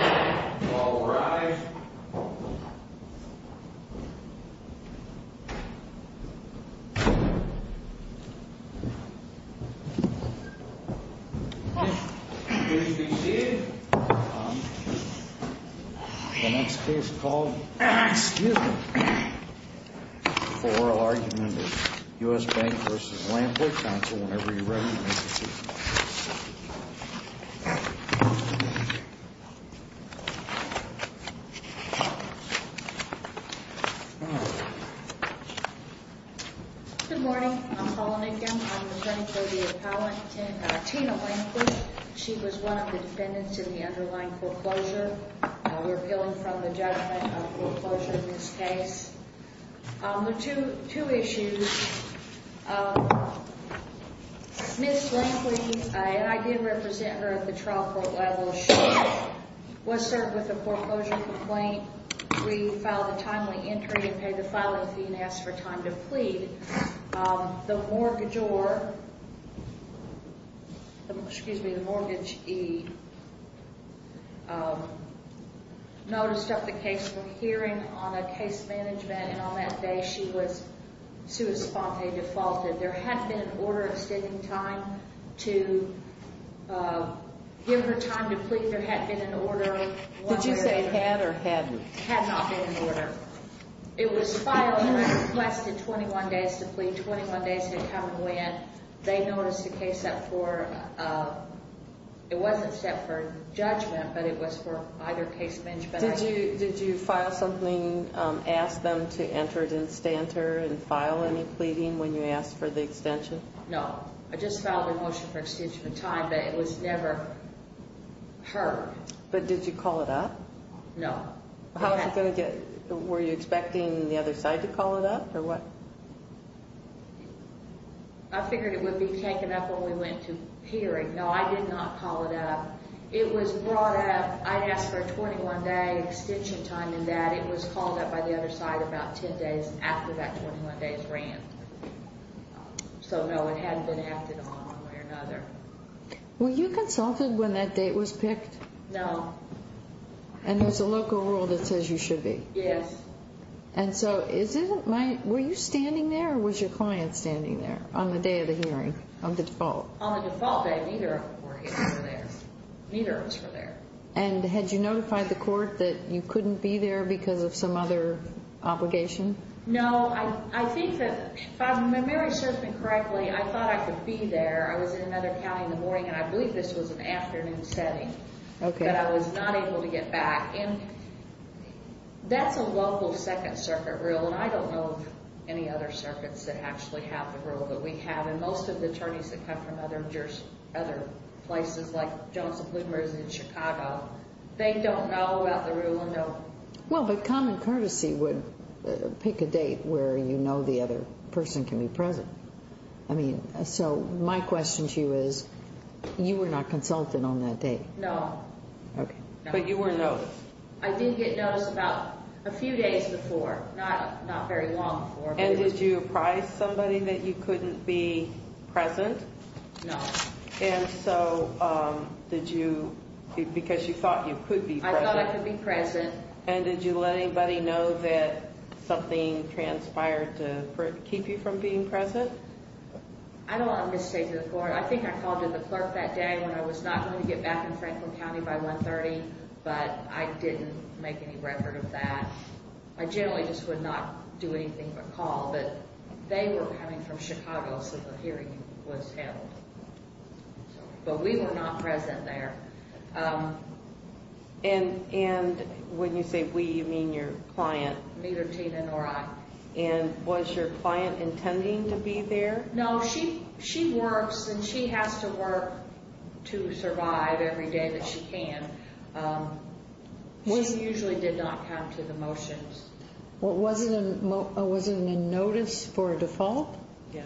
All rise. Please be seated. The next case called... Excuse me. For oral argument of U.S. Bank v. Lampley. Counsel whenever you're ready. Good morning. I'm Paula Nicken. I'm attorney for the appellant Tina Lampley. She was one of the defendants in the underlying foreclosure. We're appealing from the judgment of foreclosure in this case. Two issues. Ms. Lampley, and I did represent her at the trial court level. She was served with a foreclosure complaint. We filed a timely entry and paid the filing fee and asked for time to plead. The mortgagor, excuse me, the mortgagee noticed of the case for hearing on a case management and on that day she was sua sponte defaulted. There had been an order extending time to give her time to plead. There had been an order. Did you say had or hadn't? Had not been an order. It was filed. You had requested 21 days to plead. 21 days had come and went. They noticed a case set for, it wasn't set for judgment, but it was for either case management. Did you file something, ask them to enter it in stanter and file any pleading when you asked for the extension? No. I just filed a motion for extension of time, but it was never heard. But did you call it up? No. How was it going to get, were you expecting the other side to call it up or what? I figured it would be taken up when we went to hearing. No, I did not call it up. It was brought up, I asked for a 21-day extension time and that. It was called up by the other side about 10 days after that 21 days ran. So, no, it hadn't been acted on one way or another. Were you consulted when that date was picked? No. And there's a local rule that says you should be? Yes. And so is it, were you standing there or was your client standing there on the day of the hearing, on the default? On the default day, neither of them were there. Neither of us were there. And had you notified the court that you couldn't be there because of some other obligation? No, I think that if I remember my assessment correctly, I thought I could be there. I was in another county in the morning and I believe this was an afternoon setting. Okay. But I was not able to get back. And that's a local Second Circuit rule and I don't know of any other circuits that actually have the rule that we have. And most of the attorneys that come from other places, like Johnson Bloomberg's in Chicago, they don't know about the rule. Well, but Common Courtesy would pick a date where you know the other person can be present. I mean, so my question to you is, you were not consulted on that date? No. Okay. But you were noticed? I did get noticed about a few days before, not very long before. And did you apprise somebody that you couldn't be present? No. And so did you, because you thought you could be present. I thought I could be present. And did you let anybody know that something transpired to keep you from being present? I don't want to misstate this. I think I called in the clerk that day when I was not going to get back in Franklin County by 1.30, but I didn't make any record of that. I generally just would not do anything but call. But they were coming from Chicago, so the hearing was held. But we were not present there. And when you say we, you mean your client? Neither Tina nor I. And was your client intending to be there? No, she works, and she has to work to survive every day that she can. She usually did not come to the motions. Was it a notice for a default? Yeah.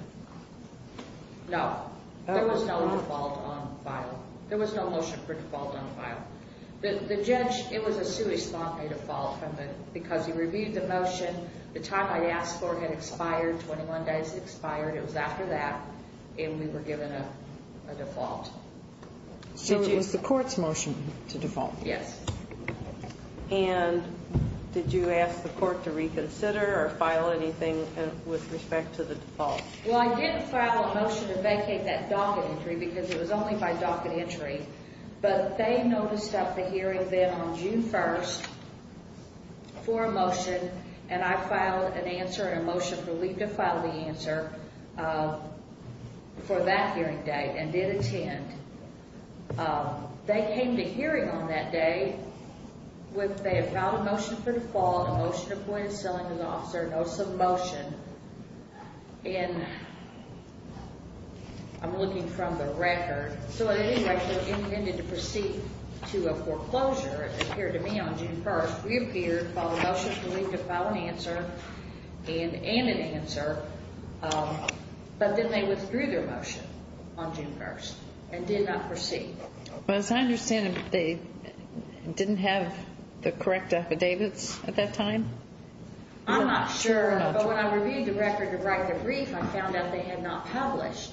No, there was no default on file. There was no motion for default on file. The judge, it was a sui sponte default because he reviewed the motion. The time I asked for had expired, 21 days expired. It was after that, and we were given a default. So it was the court's motion to default? Yes. And did you ask the court to reconsider or file anything with respect to the default? Well, I didn't file a motion to vacate that docket entry because it was only by docket entry. But they noticed at the hearing then on June 1st for a motion, and I filed an answer and a motion for Lee to file the answer for that hearing date and did attend. They came to hearing on that day. They had filed a motion for default, a motion to point a ceiling to the officer, notice of motion. And I'm looking from the record. So anyway, they intended to proceed to a foreclosure, it appeared to me, on June 1st. We appeared, filed a motion for Lee to file an answer and an answer. But then they withdrew their motion on June 1st and did not proceed. But as I understand it, they didn't have the correct affidavits at that time? I'm not sure. But when I reviewed the record to write the brief, I found out they had not published.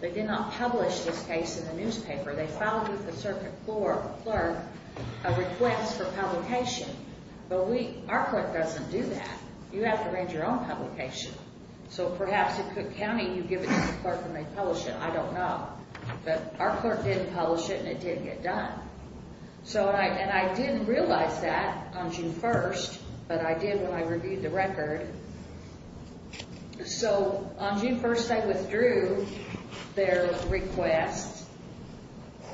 They did not publish this case in the newspaper. They filed with the circuit court clerk a request for publication. But our court doesn't do that. You have to arrange your own publication. So perhaps at Cook County you give it to the clerk and they publish it. I don't know. But our court didn't publish it and it didn't get done. And I didn't realize that on June 1st, but I did when I reviewed the record. So on June 1st, they withdrew their request.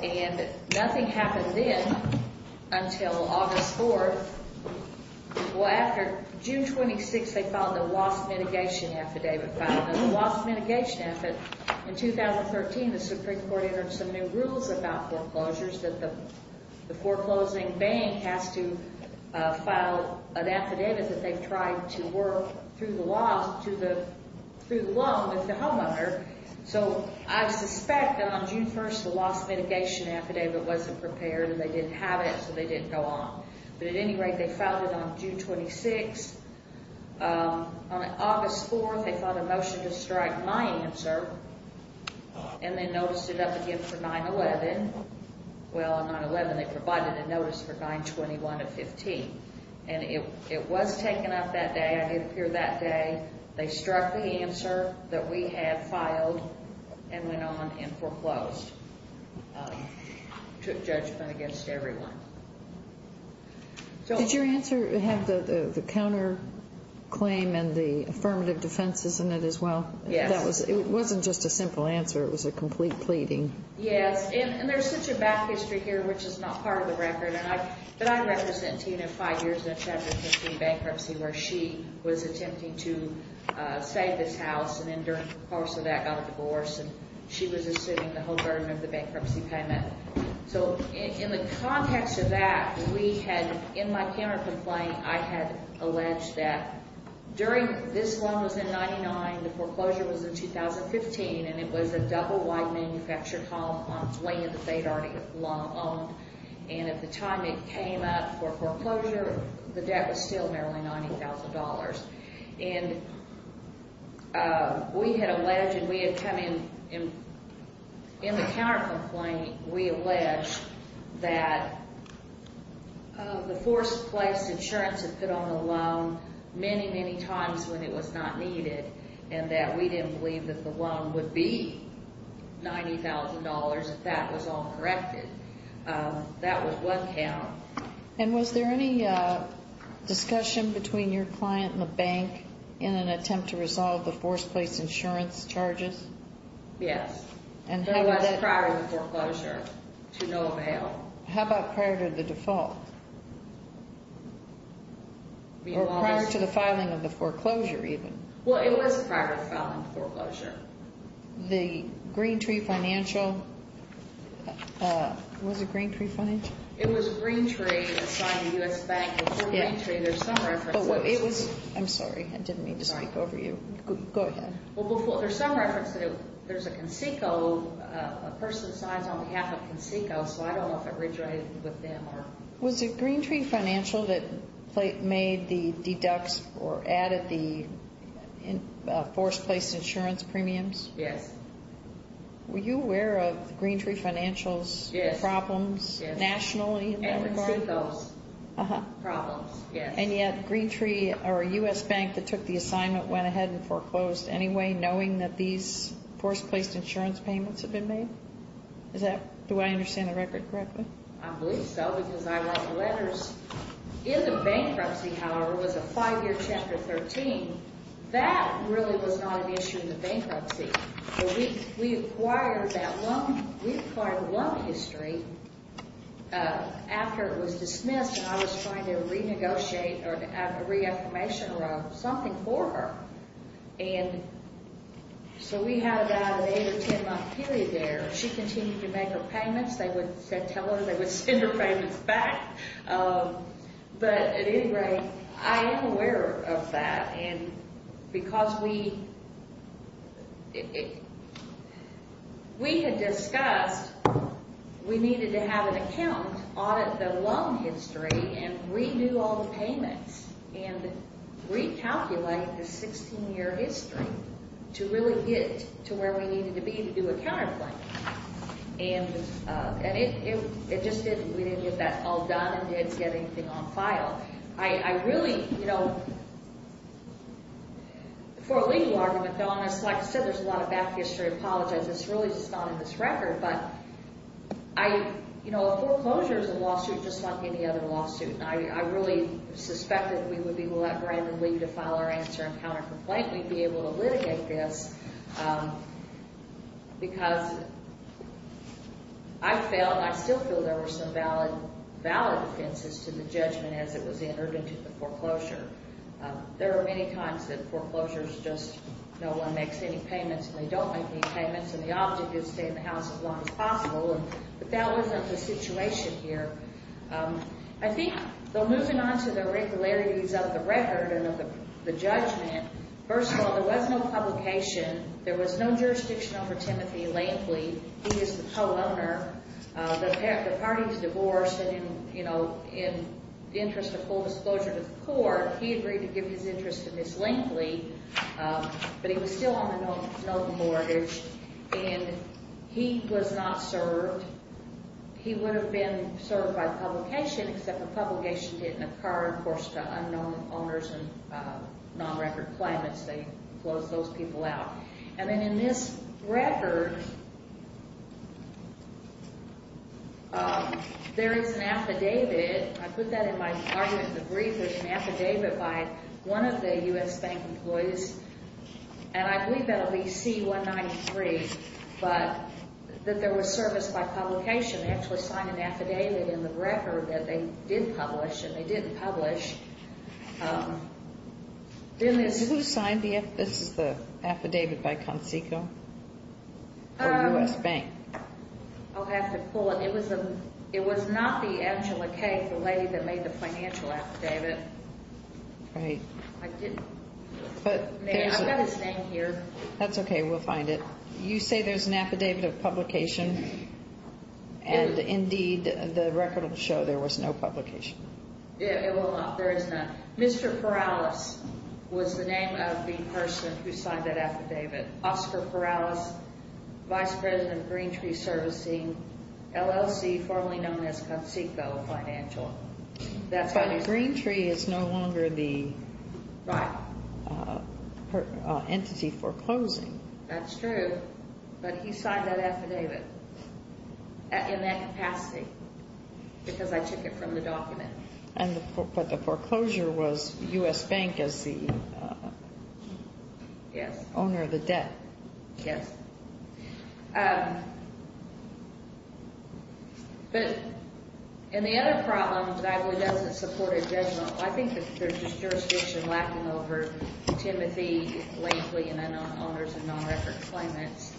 And nothing happened then until August 4th. Well, after June 26th, they filed the WASP mitigation affidavit. In the WASP mitigation affidavit, in 2013, the Supreme Court entered some new rules about foreclosures that the foreclosing bank has to file an affidavit that they've tried to work through the law with the homeowner. So I suspect that on June 1st, the WASP mitigation affidavit wasn't prepared and they didn't have it, so they didn't go on. But at any rate, they filed it on June 26th. On August 4th, they filed a motion to strike my answer and then noticed it up again for 9-11. Well, on 9-11, they provided a notice for 9-21-15. And it was taken up that day. It appeared that day. They struck the answer that we had filed and went on and foreclosed. Took judgment against everyone. Did your answer have the counterclaim and the affirmative defenses in it as well? Yes. It wasn't just a simple answer. It was a complete pleading. Yes. And there's such a back history here, which is not part of the record. But I represent Tina five years in Chapter 15 bankruptcy where she was attempting to save this house. And then during the course of that, got a divorce. And she was assuming the whole burden of the bankruptcy payment. So in the context of that, we had in my counterclaim, I had alleged that during this loan was in 99, the foreclosure was in 2015. And it was a double-wide manufactured home on land that they'd already long owned. And at the time it came up for foreclosure, the debt was still merely $90,000. And we had alleged and we had come in, in the counterclaim, we alleged that the forced place insurance had put on the loan many, many times when it was not needed. And that we didn't believe that the loan would be $90,000 if that was all corrected. That was one count. And was there any discussion between your client and the bank in an attempt to resolve the forced place insurance charges? Yes. There was prior to the foreclosure to no avail. How about prior to the default? Or prior to the filing of the foreclosure even? Well, it was prior to the filing of the foreclosure. The Greentree Financial, was it Greentree Financial? It was Greentree that signed the U.S. Bank. Before Greentree, there's some reference. I'm sorry. I didn't mean to speak over you. Go ahead. Well, there's some reference that there's a CONSECO, a person signed on behalf of CONSECO. So I don't know if it rejoined with them. Was it Greentree Financial that made the deducts or added the forced place insurance premiums? Yes. Were you aware of Greentree Financial's problems nationally in that regard? CONSECO's problems, yes. And yet, Greentree or a U.S. Bank that took the assignment went ahead and foreclosed anyway, knowing that these forced place insurance payments had been made? Do I understand the record correctly? I believe so because I wrote the letters. In the bankruptcy, however, was a five-year Chapter 13. That really was not an issue in the bankruptcy. We acquired that loan. We acquired a loan history after it was dismissed, and I was trying to renegotiate or have a reaffirmation or something for her. And so we had about an eight- or ten-month period there. She continued to make her payments. They would tell her they would send her payments back. But at any rate, I am aware of that because we had discussed we needed to have an account, audit the loan history, and redo all the payments and recalculate the 16-year history to really get to where we needed to be to do a counterplay. And it just didn't. We didn't get that all done and didn't get anything on file. I really, you know, for a legal argument, though, and like I said, there's a lot of back history. I apologize. It's really just not in this record. But I, you know, a foreclosure is a lawsuit just like any other lawsuit, and I really suspect that if we would be able to let Brandon leave to file our answer and countercomplaint, we'd be able to litigate this because I felt and I still feel there were some valid offenses to the judgment as it was entered into the foreclosure. There are many times that foreclosures just no one makes any payments, and they don't make any payments, and the object is to stay in the house as long as possible. But that wasn't the situation here. I think, though, moving on to the irregularities of the record and of the judgment, first of all, there was no publication. There was no jurisdiction over Timothy Lankley. He is the co-owner. The party is divorced, and, you know, in the interest of full disclosure to the court, he agreed to give his interest to Ms. Lankley, but he was still on the note mortgage, and he was not served. He would have been served by publication, except the publication didn't occur. Of course, to unknown owners and non-record claimants, they closed those people out. And then in this record, there is an affidavit. I put that in my argument in the brief. There's an affidavit by one of the U.S. Bank employees, and I believe that'll be C-193, but that there was service by publication. They actually signed an affidavit in the record that they did publish, and they didn't publish. Then this is the affidavit by CONSECO or U.S. Bank. I'll have to pull it. It was not the Angela Kay, the lady that made the financial affidavit. Right. I didn't. I've got his name here. That's okay. We'll find it. You say there's an affidavit of publication, and indeed, the record will show there was no publication. It will not. There is not. Mr. Perales was the name of the person who signed that affidavit, Oscar Perales, Vice President of Green Tree Servicing, LLC, formerly known as CONSECO Financial. But Green Tree is no longer the entity foreclosing. That's true, but he signed that affidavit in that capacity because I took it from the document. But the foreclosure was U.S. Bank as the owner of the debt. Yes. But the other problem is that it doesn't support a judgment. I think there's just jurisdiction lacking over Timothy, Lankley, and then owners of non-record claimants.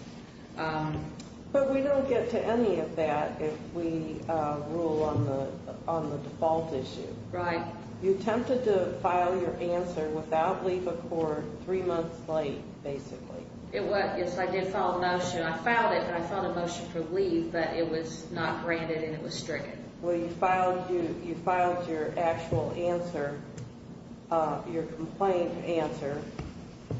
But we don't get to any of that if we rule on the default issue. Right. You attempted to file your answer without leave of court three months late, basically. Yes, I did file a motion. I filed it, but I filed a motion for leave, but it was not granted and it was stricken. Well, you filed your actual answer, your complaint answer,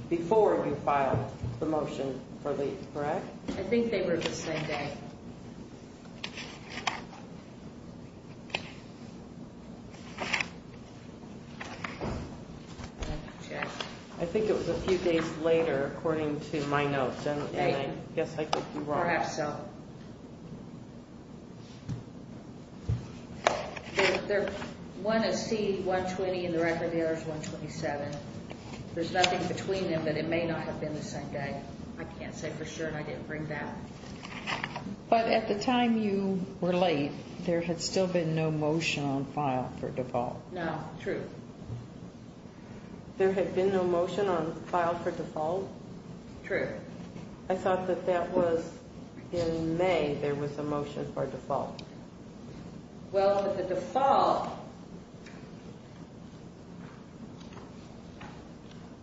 before you filed the motion for leave, correct? I think they were the same day. I think it was a few days later, according to my notes, and I guess I could be wrong. Perhaps so. One is C-120 and the record there is 127. There's nothing between them, but it may not have been the same day. I can't say for sure, and I didn't bring that. But at the time you were late, there had still been no motion on file for default. No, true. There had been no motion on file for default? True. I thought that that was in May, there was a motion for default. Well, the default...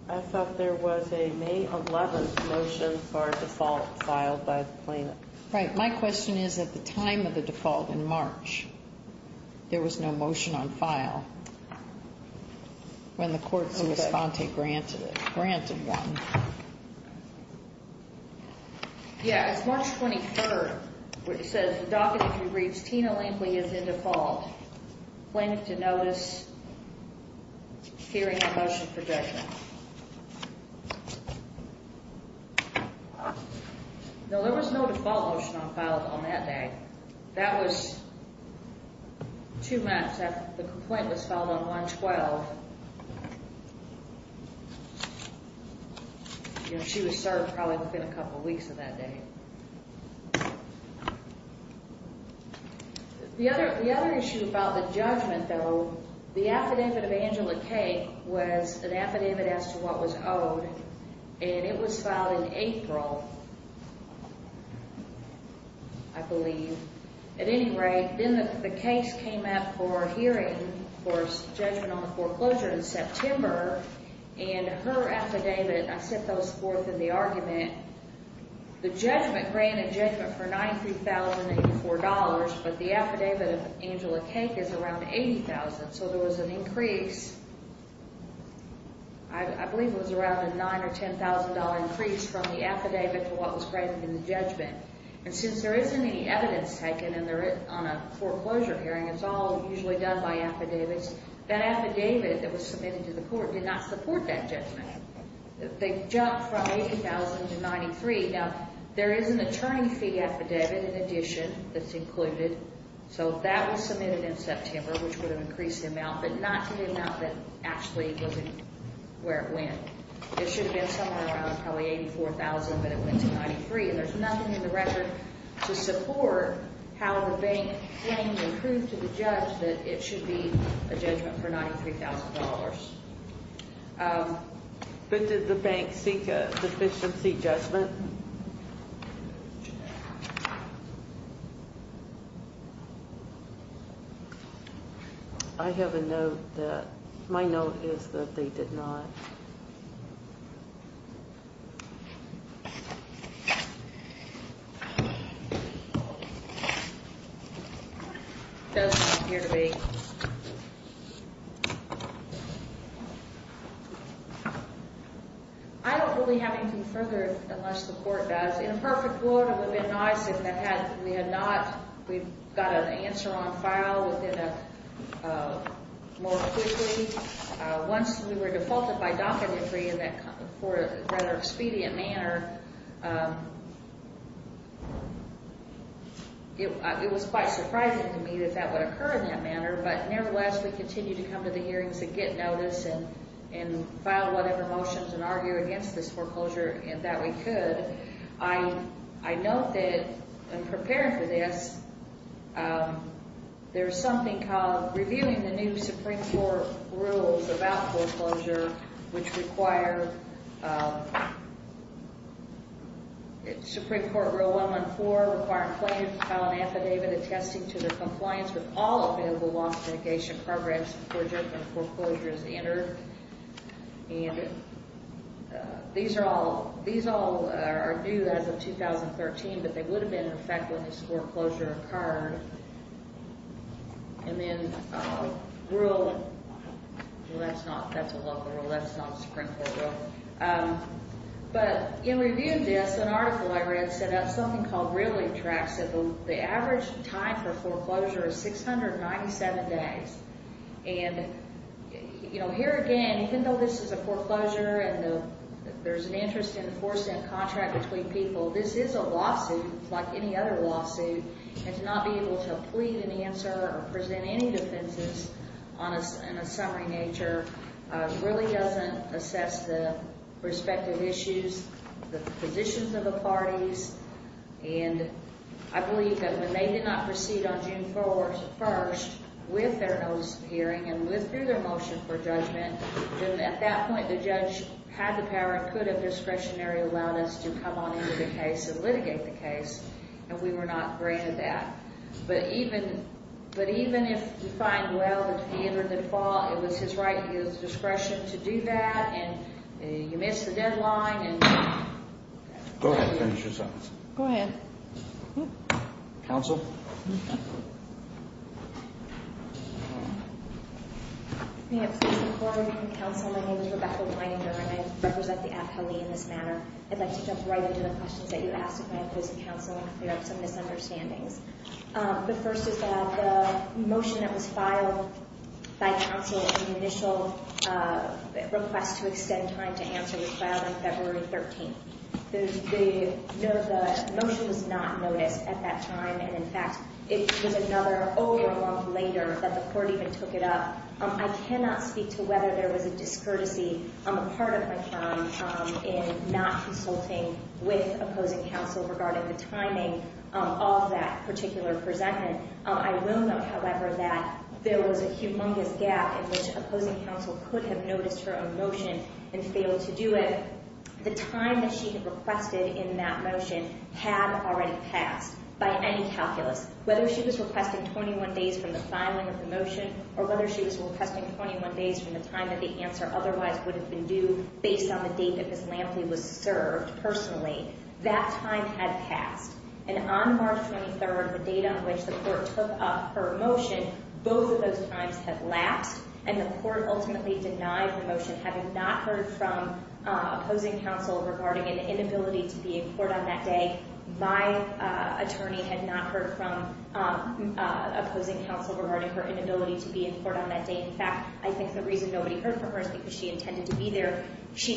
I thought there was a May 11th motion for default filed by the plaintiff. Right, my question is, at the time of the default in March, there was no motion on file, when the court, when Ms. Fonte granted it, granted one. Yeah, it's March 23rd, where it says, the docket that you reached, Tina Lampley, is in default. Plaintiff did notice hearing a motion for judgment. No, there was no default motion on file on that day. That was two months after the complaint was filed on 112. You know, she was served probably within a couple weeks of that day. The other issue about the judgment, though, the affidavit of Angela Kay was an affidavit as to what was owed, and it was filed in April, I believe. At any rate, then the case came up for hearing, for judgment on the foreclosure in September, and her affidavit, I set those forth in the argument. The judgment, granted judgment for $93,084, but the affidavit of Angela Kay is around $80,000, so there was an increase, I believe it was around a $9,000 or $10,000 increase from the affidavit to what was granted in the judgment. And since there isn't any evidence taken on a foreclosure hearing, it's all usually done by affidavits, that affidavit that was submitted to the court did not support that judgment. They jumped from $80,000 to $93,000. Now, there is an attorney fee affidavit in addition that's included, so that was submitted in September, which would have increased the amount, but not to the amount that actually was where it went. It should have been somewhere around probably $84,000, but it went to $93,000, and there's nothing in the record to support how the bank claimed and proved to the judge that it should be a judgment for $93,000. But did the bank seek a deficiency judgment? I have a note that my note is that they did not. It does not appear to be. I don't believe we have anything further unless the court does. In a perfect world, it would have been nice if we had not. We've got an answer on file more quickly. Once we were defaulted by docket entry in a rather expedient manner, it was quite surprising to me that that would occur in that manner, but nevertheless, we continued to come to the hearings and get notice and file whatever motions and argue against this foreclosure that we could. I note that in preparing for this, there's something called reviewing the new Supreme Court rules about foreclosure, which require Supreme Court Rule 114, requiring plaintiff to file an affidavit attesting to their compliance with all available loss mitigation programs before a judgment foreclosure is entered. These all are new as of 2013, but they would have been in effect when this foreclosure occurred. In reviewing this, an article I read set up something called reeling tracks. The average time for foreclosure is 697 days. Here again, even though this is a foreclosure and there's an interest in forcing a contract between people, this is a lawsuit like any other lawsuit. To not be able to plead an answer or present any defenses in a summary nature really doesn't assess the respective issues, the positions of the parties. I believe that when they did not proceed on June 1st with their notice of hearing and with their motion for judgment, then at that point the judge had the power and could have discretionary allowed us to come on into the case and litigate the case, and we were not granted that. But even if we find well that he entered the default, it was his right and his discretion to do that, and you missed the deadline. Go ahead. Finish your sentence. Go ahead. Counsel? May I please record, counsel, my name is Rebecca Weininger, and I represent the appellee in this matter. I'd like to jump right into the questions that you asked of my opposing counsel and clear up some misunderstandings. The first is that the motion that was filed by counsel in the initial request to extend time to answer was filed on February 13th. The motion was not noticed at that time, and, in fact, it was another month later that the court even took it up. I cannot speak to whether there was a discourtesy on the part of my client in not consulting with opposing counsel regarding the timing of that particular presentment. I will note, however, that there was a humongous gap in which opposing counsel could have noticed her own motion and failed to do it. The time that she had requested in that motion had already passed by any calculus. Whether she was requesting 21 days from the filing of the motion or whether she was requesting 21 days from the time that the answer otherwise would have been due based on the date that Ms. Lampley was served personally, that time had passed. And on March 23rd, the date on which the court took up her motion, both of those times had lapsed, and the court ultimately denied the motion having not heard from opposing counsel regarding an inability to be in court on that day. My attorney had not heard from opposing counsel regarding her inability to be in court on that day. In fact, I think the reason nobody heard from her is because she intended to be there.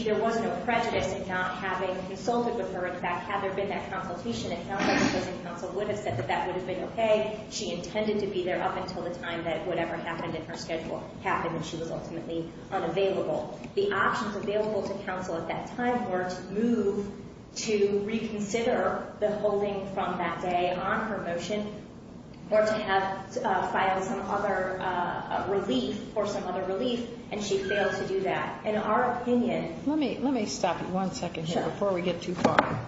There was no prejudice in not having consulted with her. In fact, had there been that consultation, it sounds like opposing counsel would have said that that would have been okay. She intended to be there up until the time that whatever happened in her schedule happened and she was ultimately unavailable. The options available to counsel at that time were to move to reconsider the holding from that day on her motion or to file some other relief or some other relief, and she failed to do that. In our opinion... Let me stop you one second here before we get too far.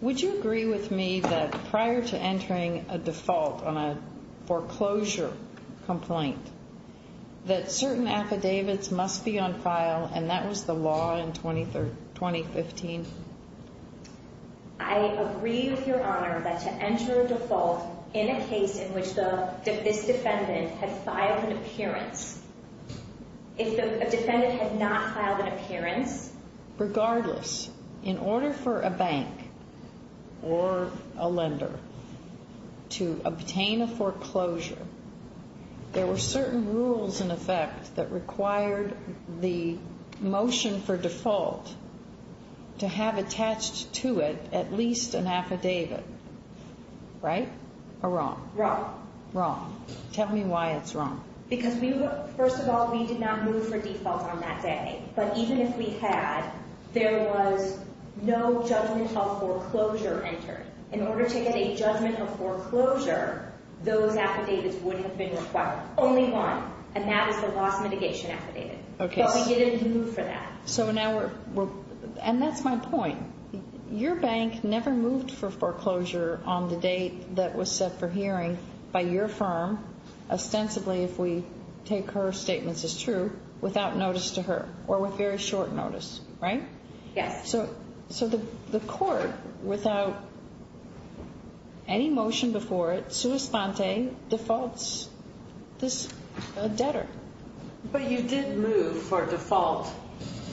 Would you agree with me that prior to entering a default on a foreclosure complaint, that certain affidavits must be on file, and that was the law in 2015? I agree with Your Honor that to enter a default in a case in which this defendant had filed an appearance, if the defendant had not filed an appearance... Regardless, in order for a bank or a lender to obtain a foreclosure, there were certain rules in effect that required the motion for default to have attached to it at least an affidavit, right? Or wrong? Wrong. Wrong. Tell me why it's wrong. Because first of all, we did not move for default on that day. But even if we had, there was no judgment of foreclosure entered. In order to get a judgment of foreclosure, those affidavits would have been required. Only one, and that was the loss mitigation affidavit. Okay. But we didn't move for that. So now we're... And that's my point. Your bank never moved for foreclosure on the date that was set for hearing by your firm, ostensibly if we take her statements as true, without notice to her, or with very short notice, right? Yes. So the court, without any motion before it, sui sponte, defaults this debtor. But you did move for default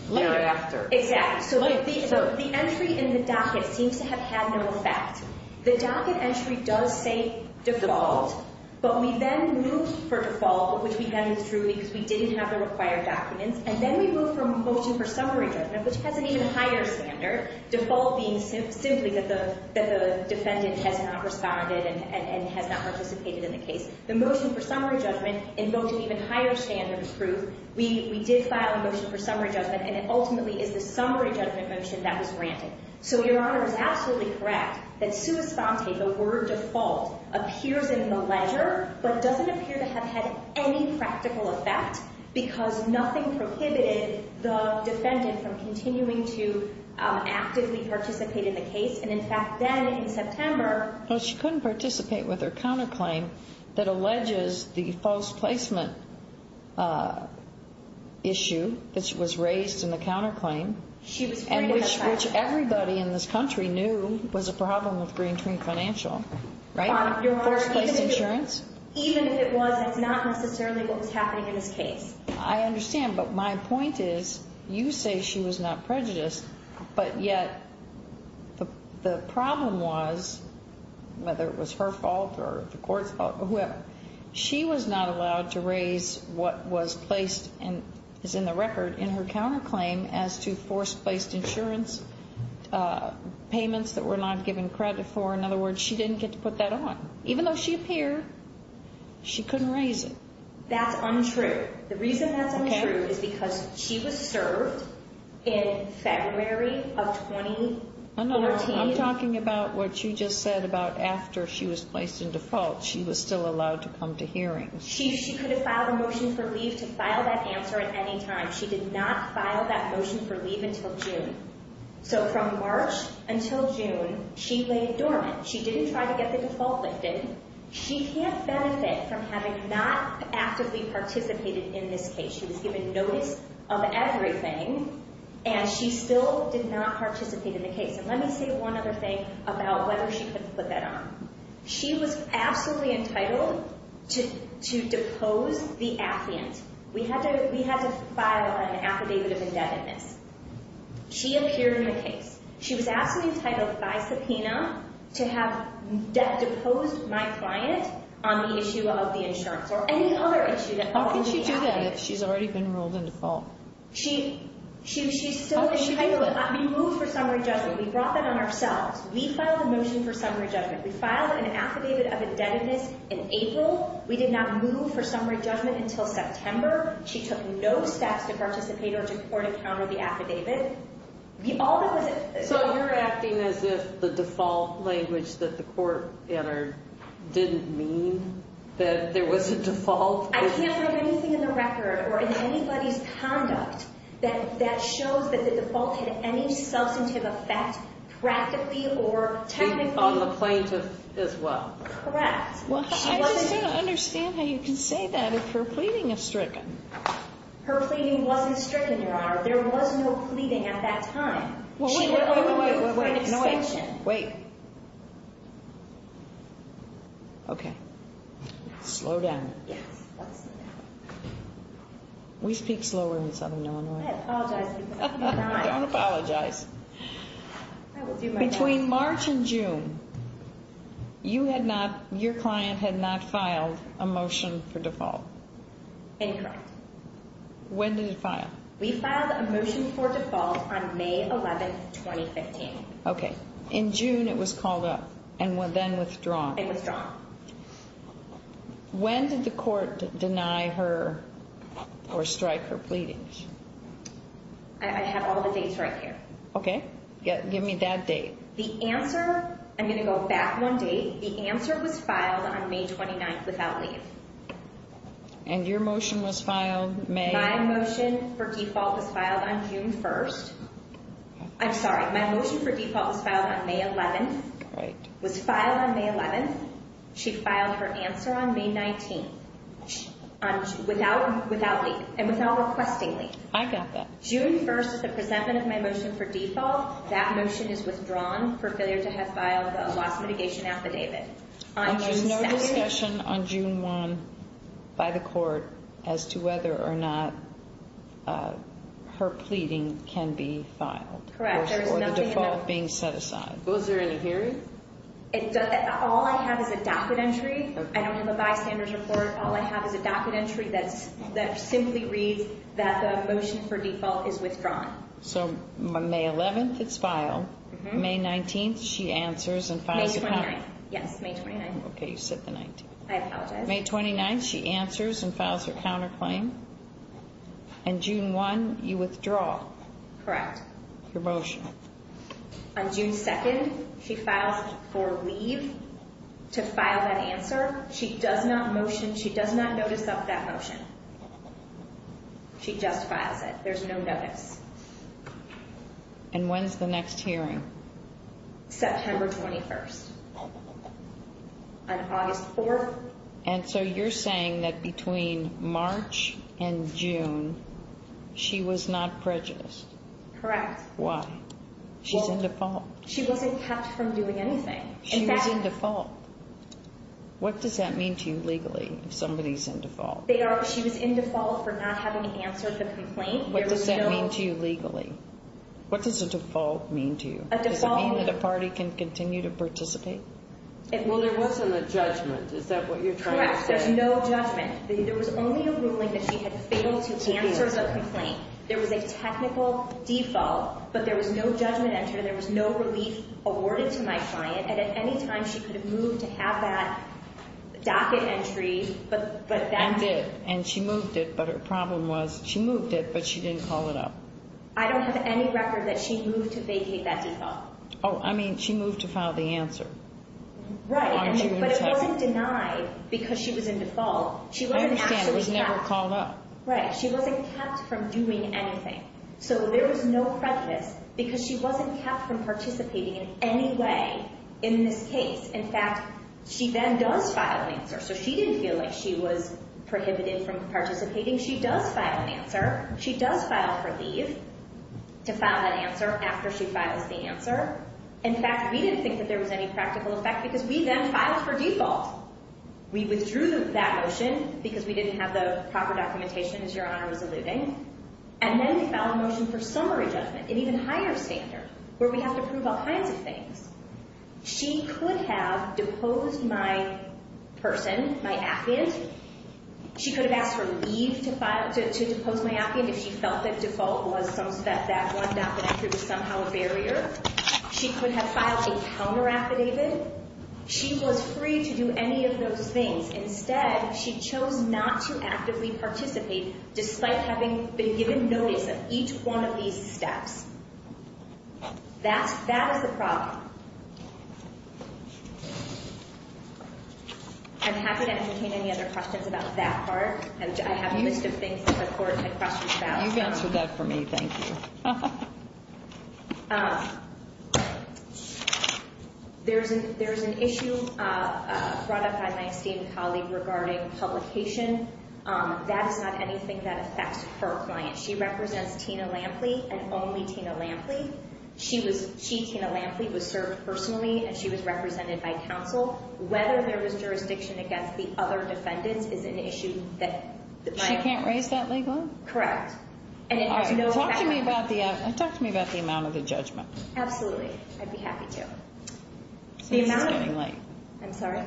thereafter. Exactly. So the entry in the docket seems to have had no effect. The docket entry does say default. But we then moved for default, which we then moved through because we didn't have the required documents. And then we moved for a motion for summary judgment, which has an even higher standard, default being simply that the defendant has not responded and has not participated in the case. The motion for summary judgment invoked an even higher standard of truth. We did file a motion for summary judgment, and it ultimately is the summary judgment motion that was granted. So Your Honor is absolutely correct that sui sponte, the word default, appears in the ledger, but doesn't appear to have had any practical effect because nothing prohibited the defendant from continuing to actively participate in the case. And, in fact, then in September. Well, she couldn't participate with her counterclaim that alleges the false placement issue that was raised in the counterclaim. She was afraid of that fact. Which everybody in this country knew was a problem with Green Tree Financial, right? Your Honor, even if it was, that's not necessarily what was happening in this case. I understand, but my point is you say she was not prejudiced, but yet the problem was, whether it was her fault or the court's fault or whoever, she was not allowed to raise what was placed and is in the record in her counterclaim as to forced-placed insurance payments that were not given credit for. In other words, she didn't get to put that on. Even though she appeared, she couldn't raise it. That's untrue. The reason that's untrue is because she was served in February of 2014. I'm talking about what you just said about after she was placed in default. She was still allowed to come to hearings. She could have filed a motion for leave to file that answer at any time. She did not file that motion for leave until June. So from March until June, she lay dormant. She didn't try to get the default lifted. She can't benefit from having not actively participated in this case. She was given notice of everything, and she still did not participate in the case. Let me say one other thing about whether she could put that on. She was absolutely entitled to depose the applicant. We had to file an affidavit of indebtedness. She appeared in the case. She was absolutely entitled by subpoena to have deposed my client on the issue of the insurance or any other issue that follows the affidavit. How can she do that if she's already been ruled in default? She's still entitled. We moved for summary judgment. We brought that on ourselves. We filed a motion for summary judgment. We filed an affidavit of indebtedness in April. We did not move for summary judgment until September. She took no steps to participate or to court encounter the affidavit. So you're acting as if the default language that the court entered didn't mean that there was a default? I can't remember anything in the record or in anybody's conduct that shows that the default had any substantive effect practically or technically. On the plaintiff as well? Correct. Well, I just don't understand how you can say that if her pleading is stricken. Her pleading wasn't stricken, Your Honor. There was no pleading at that time. Wait, wait, wait, wait, wait, wait, wait, wait. Okay. Slow down. We speak slower in Southern Illinois. I apologize. Don't apologize. Between March and June, you had not, your client had not filed a motion for default? Incorrect. When did it file? We filed a motion for default on May 11, 2015. Okay. In June, it was called up and then withdrawn? And withdrawn. When did the court deny her or strike her pleadings? I have all the dates right here. Okay. Give me that date. The answer, I'm going to go back one date. The answer was filed on May 29 without leave. And your motion was filed May? My motion for default was filed on June 1. I'm sorry. My motion for default was filed on May 11. Right. Was filed on May 11. She filed her answer on May 19 without leave and without requesting leave. I got that. June 1st is the presentment of my motion for default. That motion is withdrawn for failure to have filed a loss mitigation affidavit. And there's no discussion on June 1 by the court as to whether or not her pleading can be filed? Correct. Or the default being set aside? Was there any hearing? All I have is a docket entry. I don't have a bystander's report. All I have is a docket entry that simply reads that the motion for default is withdrawn. So, May 11th, it's filed. May 19th, she answers and files a counterclaim. May 29th. Yes, May 29th. Okay. You said the 19th. I apologize. May 29th, she answers and files her counterclaim. And June 1, you withdraw. Correct. Your motion. On June 2nd, she files for leave to file that answer. She does not motion. She does not notice of that motion. She just files it. There's no notice. And when's the next hearing? September 21st. On August 4th. And so, you're saying that between March and June, she was not prejudiced? Correct. Why? She's in default. She wasn't kept from doing anything. She was in default. What does that mean to you legally, if somebody's in default? She was in default for not having answered the complaint. What does that mean to you legally? What does a default mean to you? Does it mean that a party can continue to participate? Well, there wasn't a judgment. Is that what you're trying to say? Correct. There's no judgment. There was only a ruling that she had failed to answer the complaint. There was a technical default, but there was no judgment entered. There was no relief awarded to my client. And at any time, she could have moved to have that docket entry. And did. And she moved it, but her problem was she moved it, but she didn't call it up. I don't have any record that she moved to vacate that default. Oh, I mean, she moved to file the answer. Right. But it wasn't denied because she was in default. I understand. It was never called up. Right. She wasn't kept from doing anything. So there was no prejudice because she wasn't kept from participating in any way in this case. In fact, she then does file an answer. So she didn't feel like she was prohibited from participating. She does file an answer. She does file for leave to file that answer after she files the answer. In fact, we didn't think that there was any practical effect because we then filed for default. We withdrew that motion because we didn't have the proper documentation, as Your Honor was alluding. And then we filed a motion for summary judgment, an even higher standard, where we have to prove all kinds of things. She could have deposed my person, my affidavit. She could have asked for leave to depose my affidavit if she felt that default was some – that one docket entry was somehow a barrier. She could have filed a counter affidavit. She was free to do any of those things. Instead, she chose not to actively participate despite having been given notice of each one of these steps. That is the problem. I'm happy to entertain any other questions about that part. I have a list of things that the Court had questions about. You've answered that for me. Thank you. Your Honor, there is an issue brought up by my esteemed colleague regarding publication. That is not anything that affects her client. She represents Tina Lampley and only Tina Lampley. She, Tina Lampley, was served personally, and she was represented by counsel. Whether there was jurisdiction against the other defendants is an issue that – She can't raise that legal? Correct. Talk to me about the amount of the judgment. Absolutely. I'd be happy to. This is getting late. I'm sorry?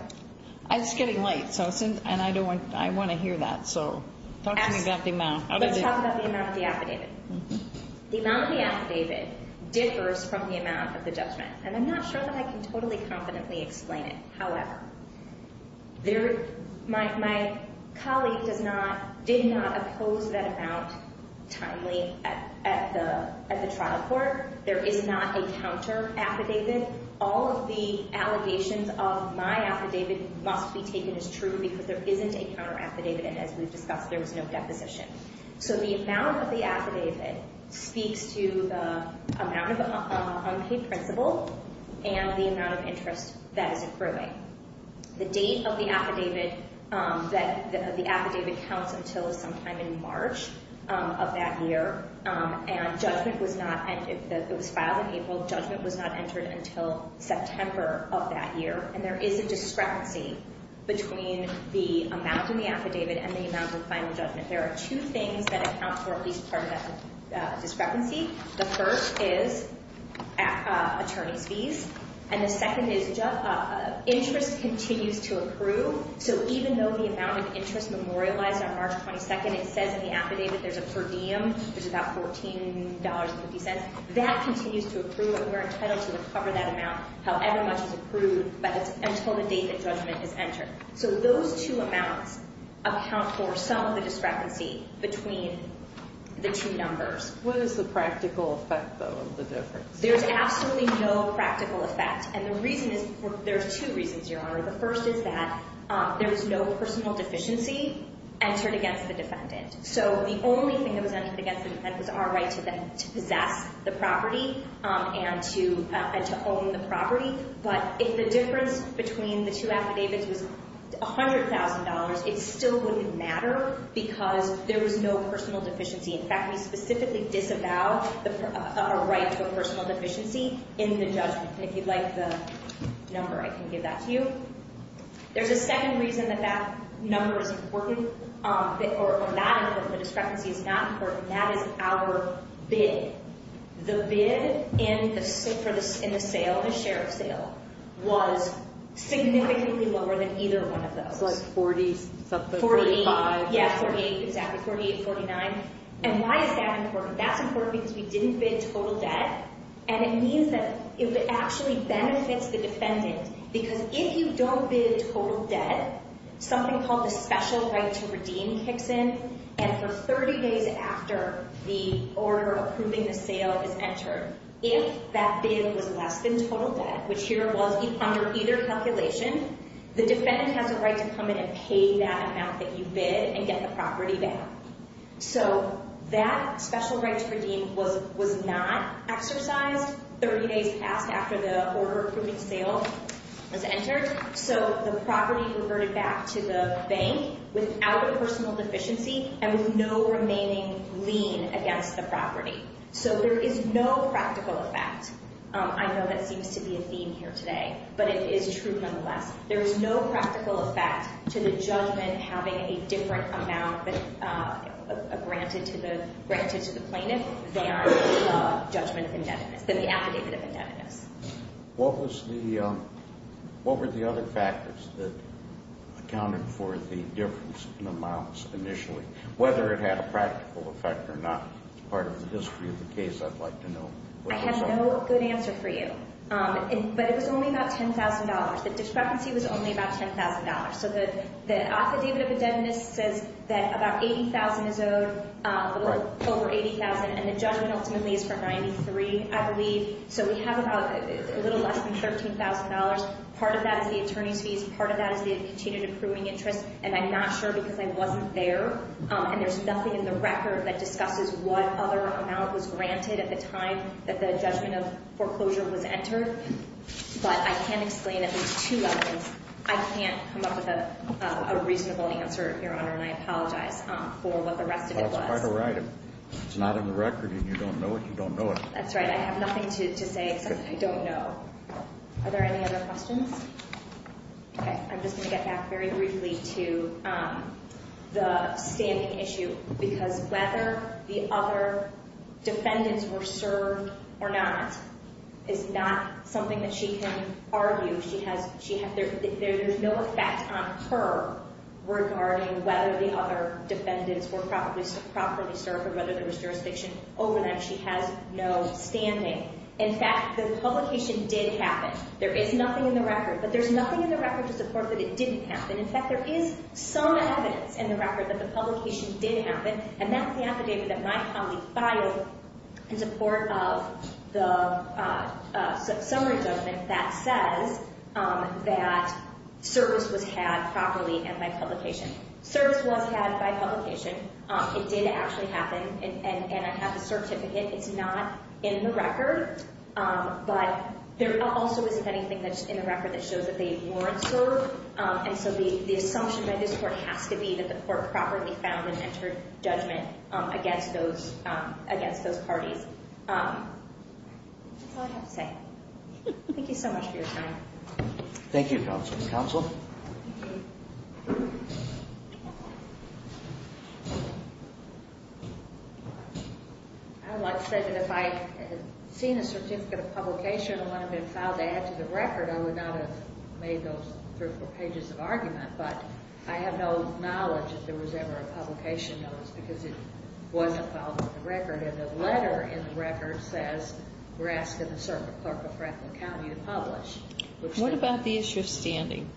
It's getting late, and I want to hear that, so talk to me about the amount. Let's talk about the amount of the affidavit. The amount of the affidavit differs from the amount of the judgment, and I'm not sure that I can totally confidently explain it. However, my colleague did not oppose that amount timely at the trial court. There is not a counter-affidavit. All of the allegations of my affidavit must be taken as true because there isn't a counter-affidavit, and as we've discussed, there was no deposition. So the amount of the affidavit speaks to the amount of unpaid principal and the amount of interest that is accruing. The date of the affidavit counts until sometime in March of that year, and judgment was not – It was filed in April. Judgment was not entered until September of that year, and there is a discrepancy between the amount in the affidavit and the amount in final judgment. There are two things that account for at least part of that discrepancy. The first is attorney's fees, and the second is interest continues to accrue. So even though the amount of interest memorialized on March 22nd, it says in the affidavit there's a per diem, there's about $14.50, that continues to accrue, and we're entitled to recover that amount however much is accrued, but it's until the date that judgment is entered. So those two amounts account for some of the discrepancy between the two numbers. What is the practical effect, though, of the difference? There's absolutely no practical effect, and the reason is – there's two reasons, Your Honor. The first is that there is no personal deficiency entered against the defendant. So the only thing that was entered against the defendant was our right to possess the property and to own the property, but if the difference between the two affidavits was $100,000, it still wouldn't matter because there was no personal deficiency. In fact, we specifically disavow a right to a personal deficiency in the judgment. If you'd like the number, I can give that to you. There's a second reason that that number is important, or not important, the discrepancy is not important, and that is our bid. The bid in the sale, the sheriff's sale, was significantly lower than either one of those. It's like 40-something, 45. Yeah, 48, exactly, 48, 49, and why is that important? That's important because we didn't bid total debt, and it means that it actually benefits the defendant because if you don't bid total debt, something called the special right to redeem kicks in, and for 30 days after the order approving the sale is entered, if that bid was less than total debt, which here was under either calculation, the defendant has a right to come in and pay that amount that you bid and get the property back. So that special right to redeem was not exercised 30 days after the order approving sale was entered, so the property reverted back to the bank without a personal deficiency and with no remaining lien against the property. So there is no practical effect. I know that seems to be a theme here today, but it is true nonetheless. There is no practical effect to the judgment having a different amount granted to the plaintiff than the judgment of indebtedness, than the affidavit of indebtedness. What were the other factors that accounted for the difference in amounts initially? Whether it had a practical effect or not is part of the history of the case. I'd like to know. I have no good answer for you, but it was only about $10,000. The discrepancy was only about $10,000. So the affidavit of indebtedness says that about $80,000 is owed, a little over $80,000, and the judgment ultimately is for $93,000, I believe. So we have a little less than $13,000. Part of that is the attorney's fees. Part of that is the continued accruing interest, and I'm not sure because I wasn't there. And there's nothing in the record that discusses what other amount was granted at the time that the judgment of foreclosure was entered. But I can explain at least two other things. I can't come up with a reasonable answer, Your Honor, and I apologize for what the rest of it was. That's quite all right. If it's not in the record and you don't know it, you don't know it. That's right. I have nothing to say except I don't know. Are there any other questions? Okay. I'm just going to get back very briefly to the standing issue because whether the other defendants were served or not is not something that she can argue. There's no effect on her regarding whether the other defendants were properly served or whether there was jurisdiction over them. She has no standing. In fact, the publication did happen. There is nothing in the record, but there's nothing in the record to support that it didn't happen. In fact, there is some evidence in the record that the publication did happen, and that's the affidavit that my colleague filed in support of the summary judgment that says that service was had properly and by publication. Service was had by publication. It did actually happen, and I have the certificate. It's not in the record, but there also isn't anything that's in the record that shows that they weren't served. And so the assumption by this court has to be that the court properly found and entered judgment against those parties. That's all I have to say. Thank you so much for your time. Thank you, Counsel. Counsel? I would like to say that if I had seen a certificate of publication and one had been filed to add to the record, I would not have made those three or four pages of argument, but I have no knowledge if there was ever a publication notice because it wasn't filed in the record, and the letter in the record says we're asking the clerk of Franklin County to publish. What about the issue of standing?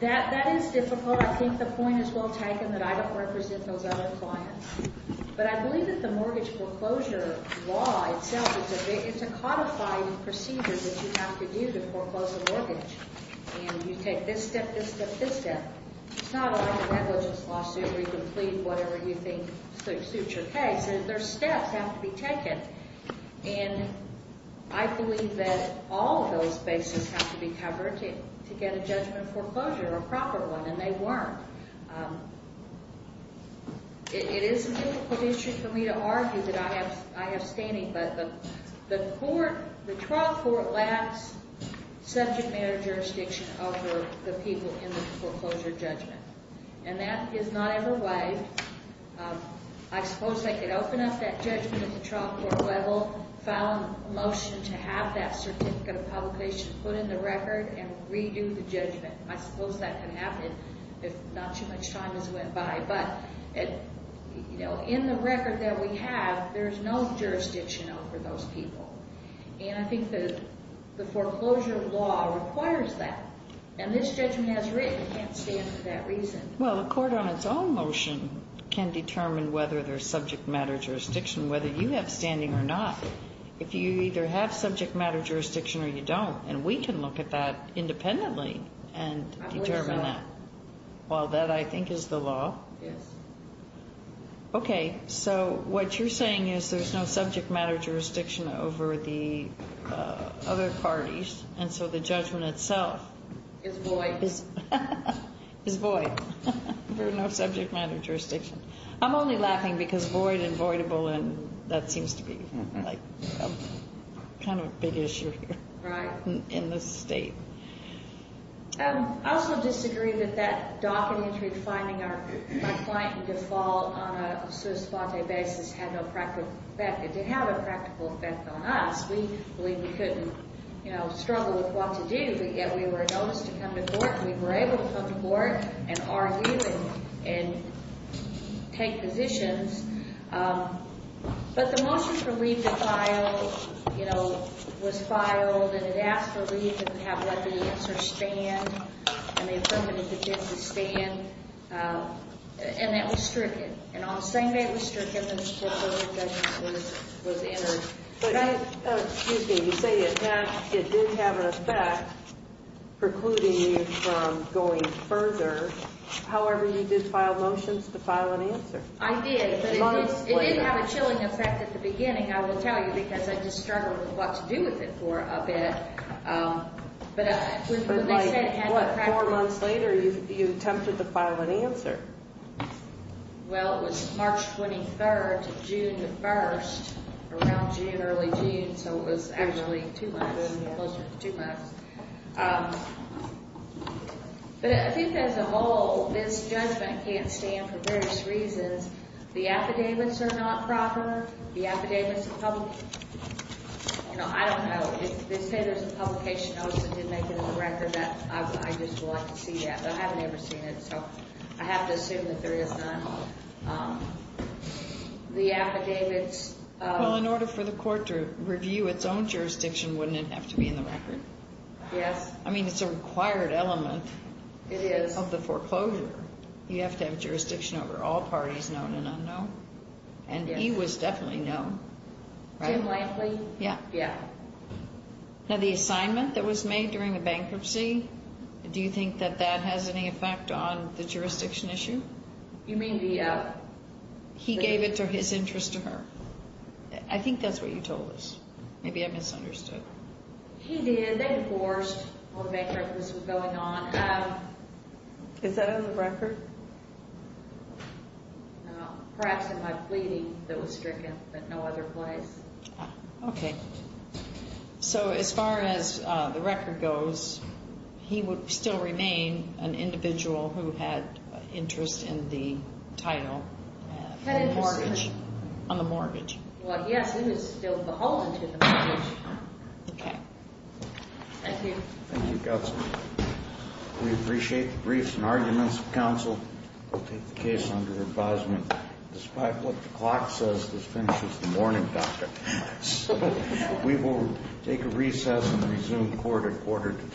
That is difficult. I think the point is well taken that I don't represent those other clients, but I believe that the mortgage foreclosure law itself is a codified procedure that you have to do to foreclose a mortgage, and you take this step, this step, this step. It's not like a negligence lawsuit where you can plead whatever you think suits your case. There are steps that have to be taken, and I believe that all of those bases have to be covered to get a judgment foreclosure, a proper one, and they weren't. It is a difficult issue for me to argue that I have standing, but the court, the trial court lacks subject matter jurisdiction over the people in the foreclosure judgment, and that is not ever waived. I suppose they could open up that judgment at the trial court level, file a motion to have that certificate of publication put in the record and redo the judgment. I suppose that could happen if not too much time has went by, but in the record that we have, there is no jurisdiction over those people, and I think the foreclosure law requires that, and this judgment has written. It can't stand for that reason. Well, the court on its own motion can determine whether there is subject matter jurisdiction, whether you have standing or not. If you either have subject matter jurisdiction or you don't, and we can look at that independently and determine that. I believe so. Well, that, I think, is the law. Yes. Okay, so what you're saying is there's no subject matter jurisdiction over the other parties, and so the judgment itself is void. Is void. There's no subject matter jurisdiction. I'm only laughing because void and voidable, that seems to be kind of a big issue here. Right. In this state. I also disagree that that docket entry, finding my client in default on a sui sponte basis had no practical effect. It did have a practical effect on us. We couldn't struggle with what to do, yet we were noticed to come to court, and we were able to come to court and argue and take positions. But the motion for leave to file, you know, was filed, and it asked for leave and have let the answer stand, and they affirmed that it did stand, and that was stricken. And on the same day it was stricken, the report of objections was entered. Excuse me. You say it did have an effect precluding you from going further. However, you did file motions to file an answer. I did, but it didn't have a chilling effect at the beginning, I will tell you, because I just struggled with what to do with it for a bit. But when they said it had a practical effect. Four months later you attempted to file an answer. Well, it was March 23rd to June 1st, around June, early June, so it was actually two months, closer to two months. But I think as a whole this judgment can't stand for various reasons. The affidavits are not proper. The affidavits are public. You know, I don't know. They say there's a publication notice that did make it in the record. I just would like to see that, but I haven't ever seen it, so I have to assume that there is none. The affidavits. Well, in order for the court to review its own jurisdiction, wouldn't it have to be in the record? Yes. I mean, it's a required element. It is. Of the foreclosure. You have to have jurisdiction over all parties known and unknown. And he was definitely known. Jim Lankley. Yeah. Yeah. Now the assignment that was made during the bankruptcy, do you think that that has any effect on the jurisdiction issue? You mean the? He gave it to his interest to her. I think that's what you told us. Maybe I misunderstood. He did. They divorced when the bankruptcy was going on. Is that in the record? No. Perhaps in my pleading that was stricken, but no other place. Okay. So as far as the record goes, he would still remain an individual who had interest in the title. On the mortgage. On the mortgage. Well, yes, it is still the whole into the mortgage. Okay. Thank you. Thank you, Counsel. We appreciate the briefs and arguments of counsel. We'll take the case under advisement. Despite what the clock says, this finishes the morning, Dr. We will take a recess and resume court at quarter to two. All rise.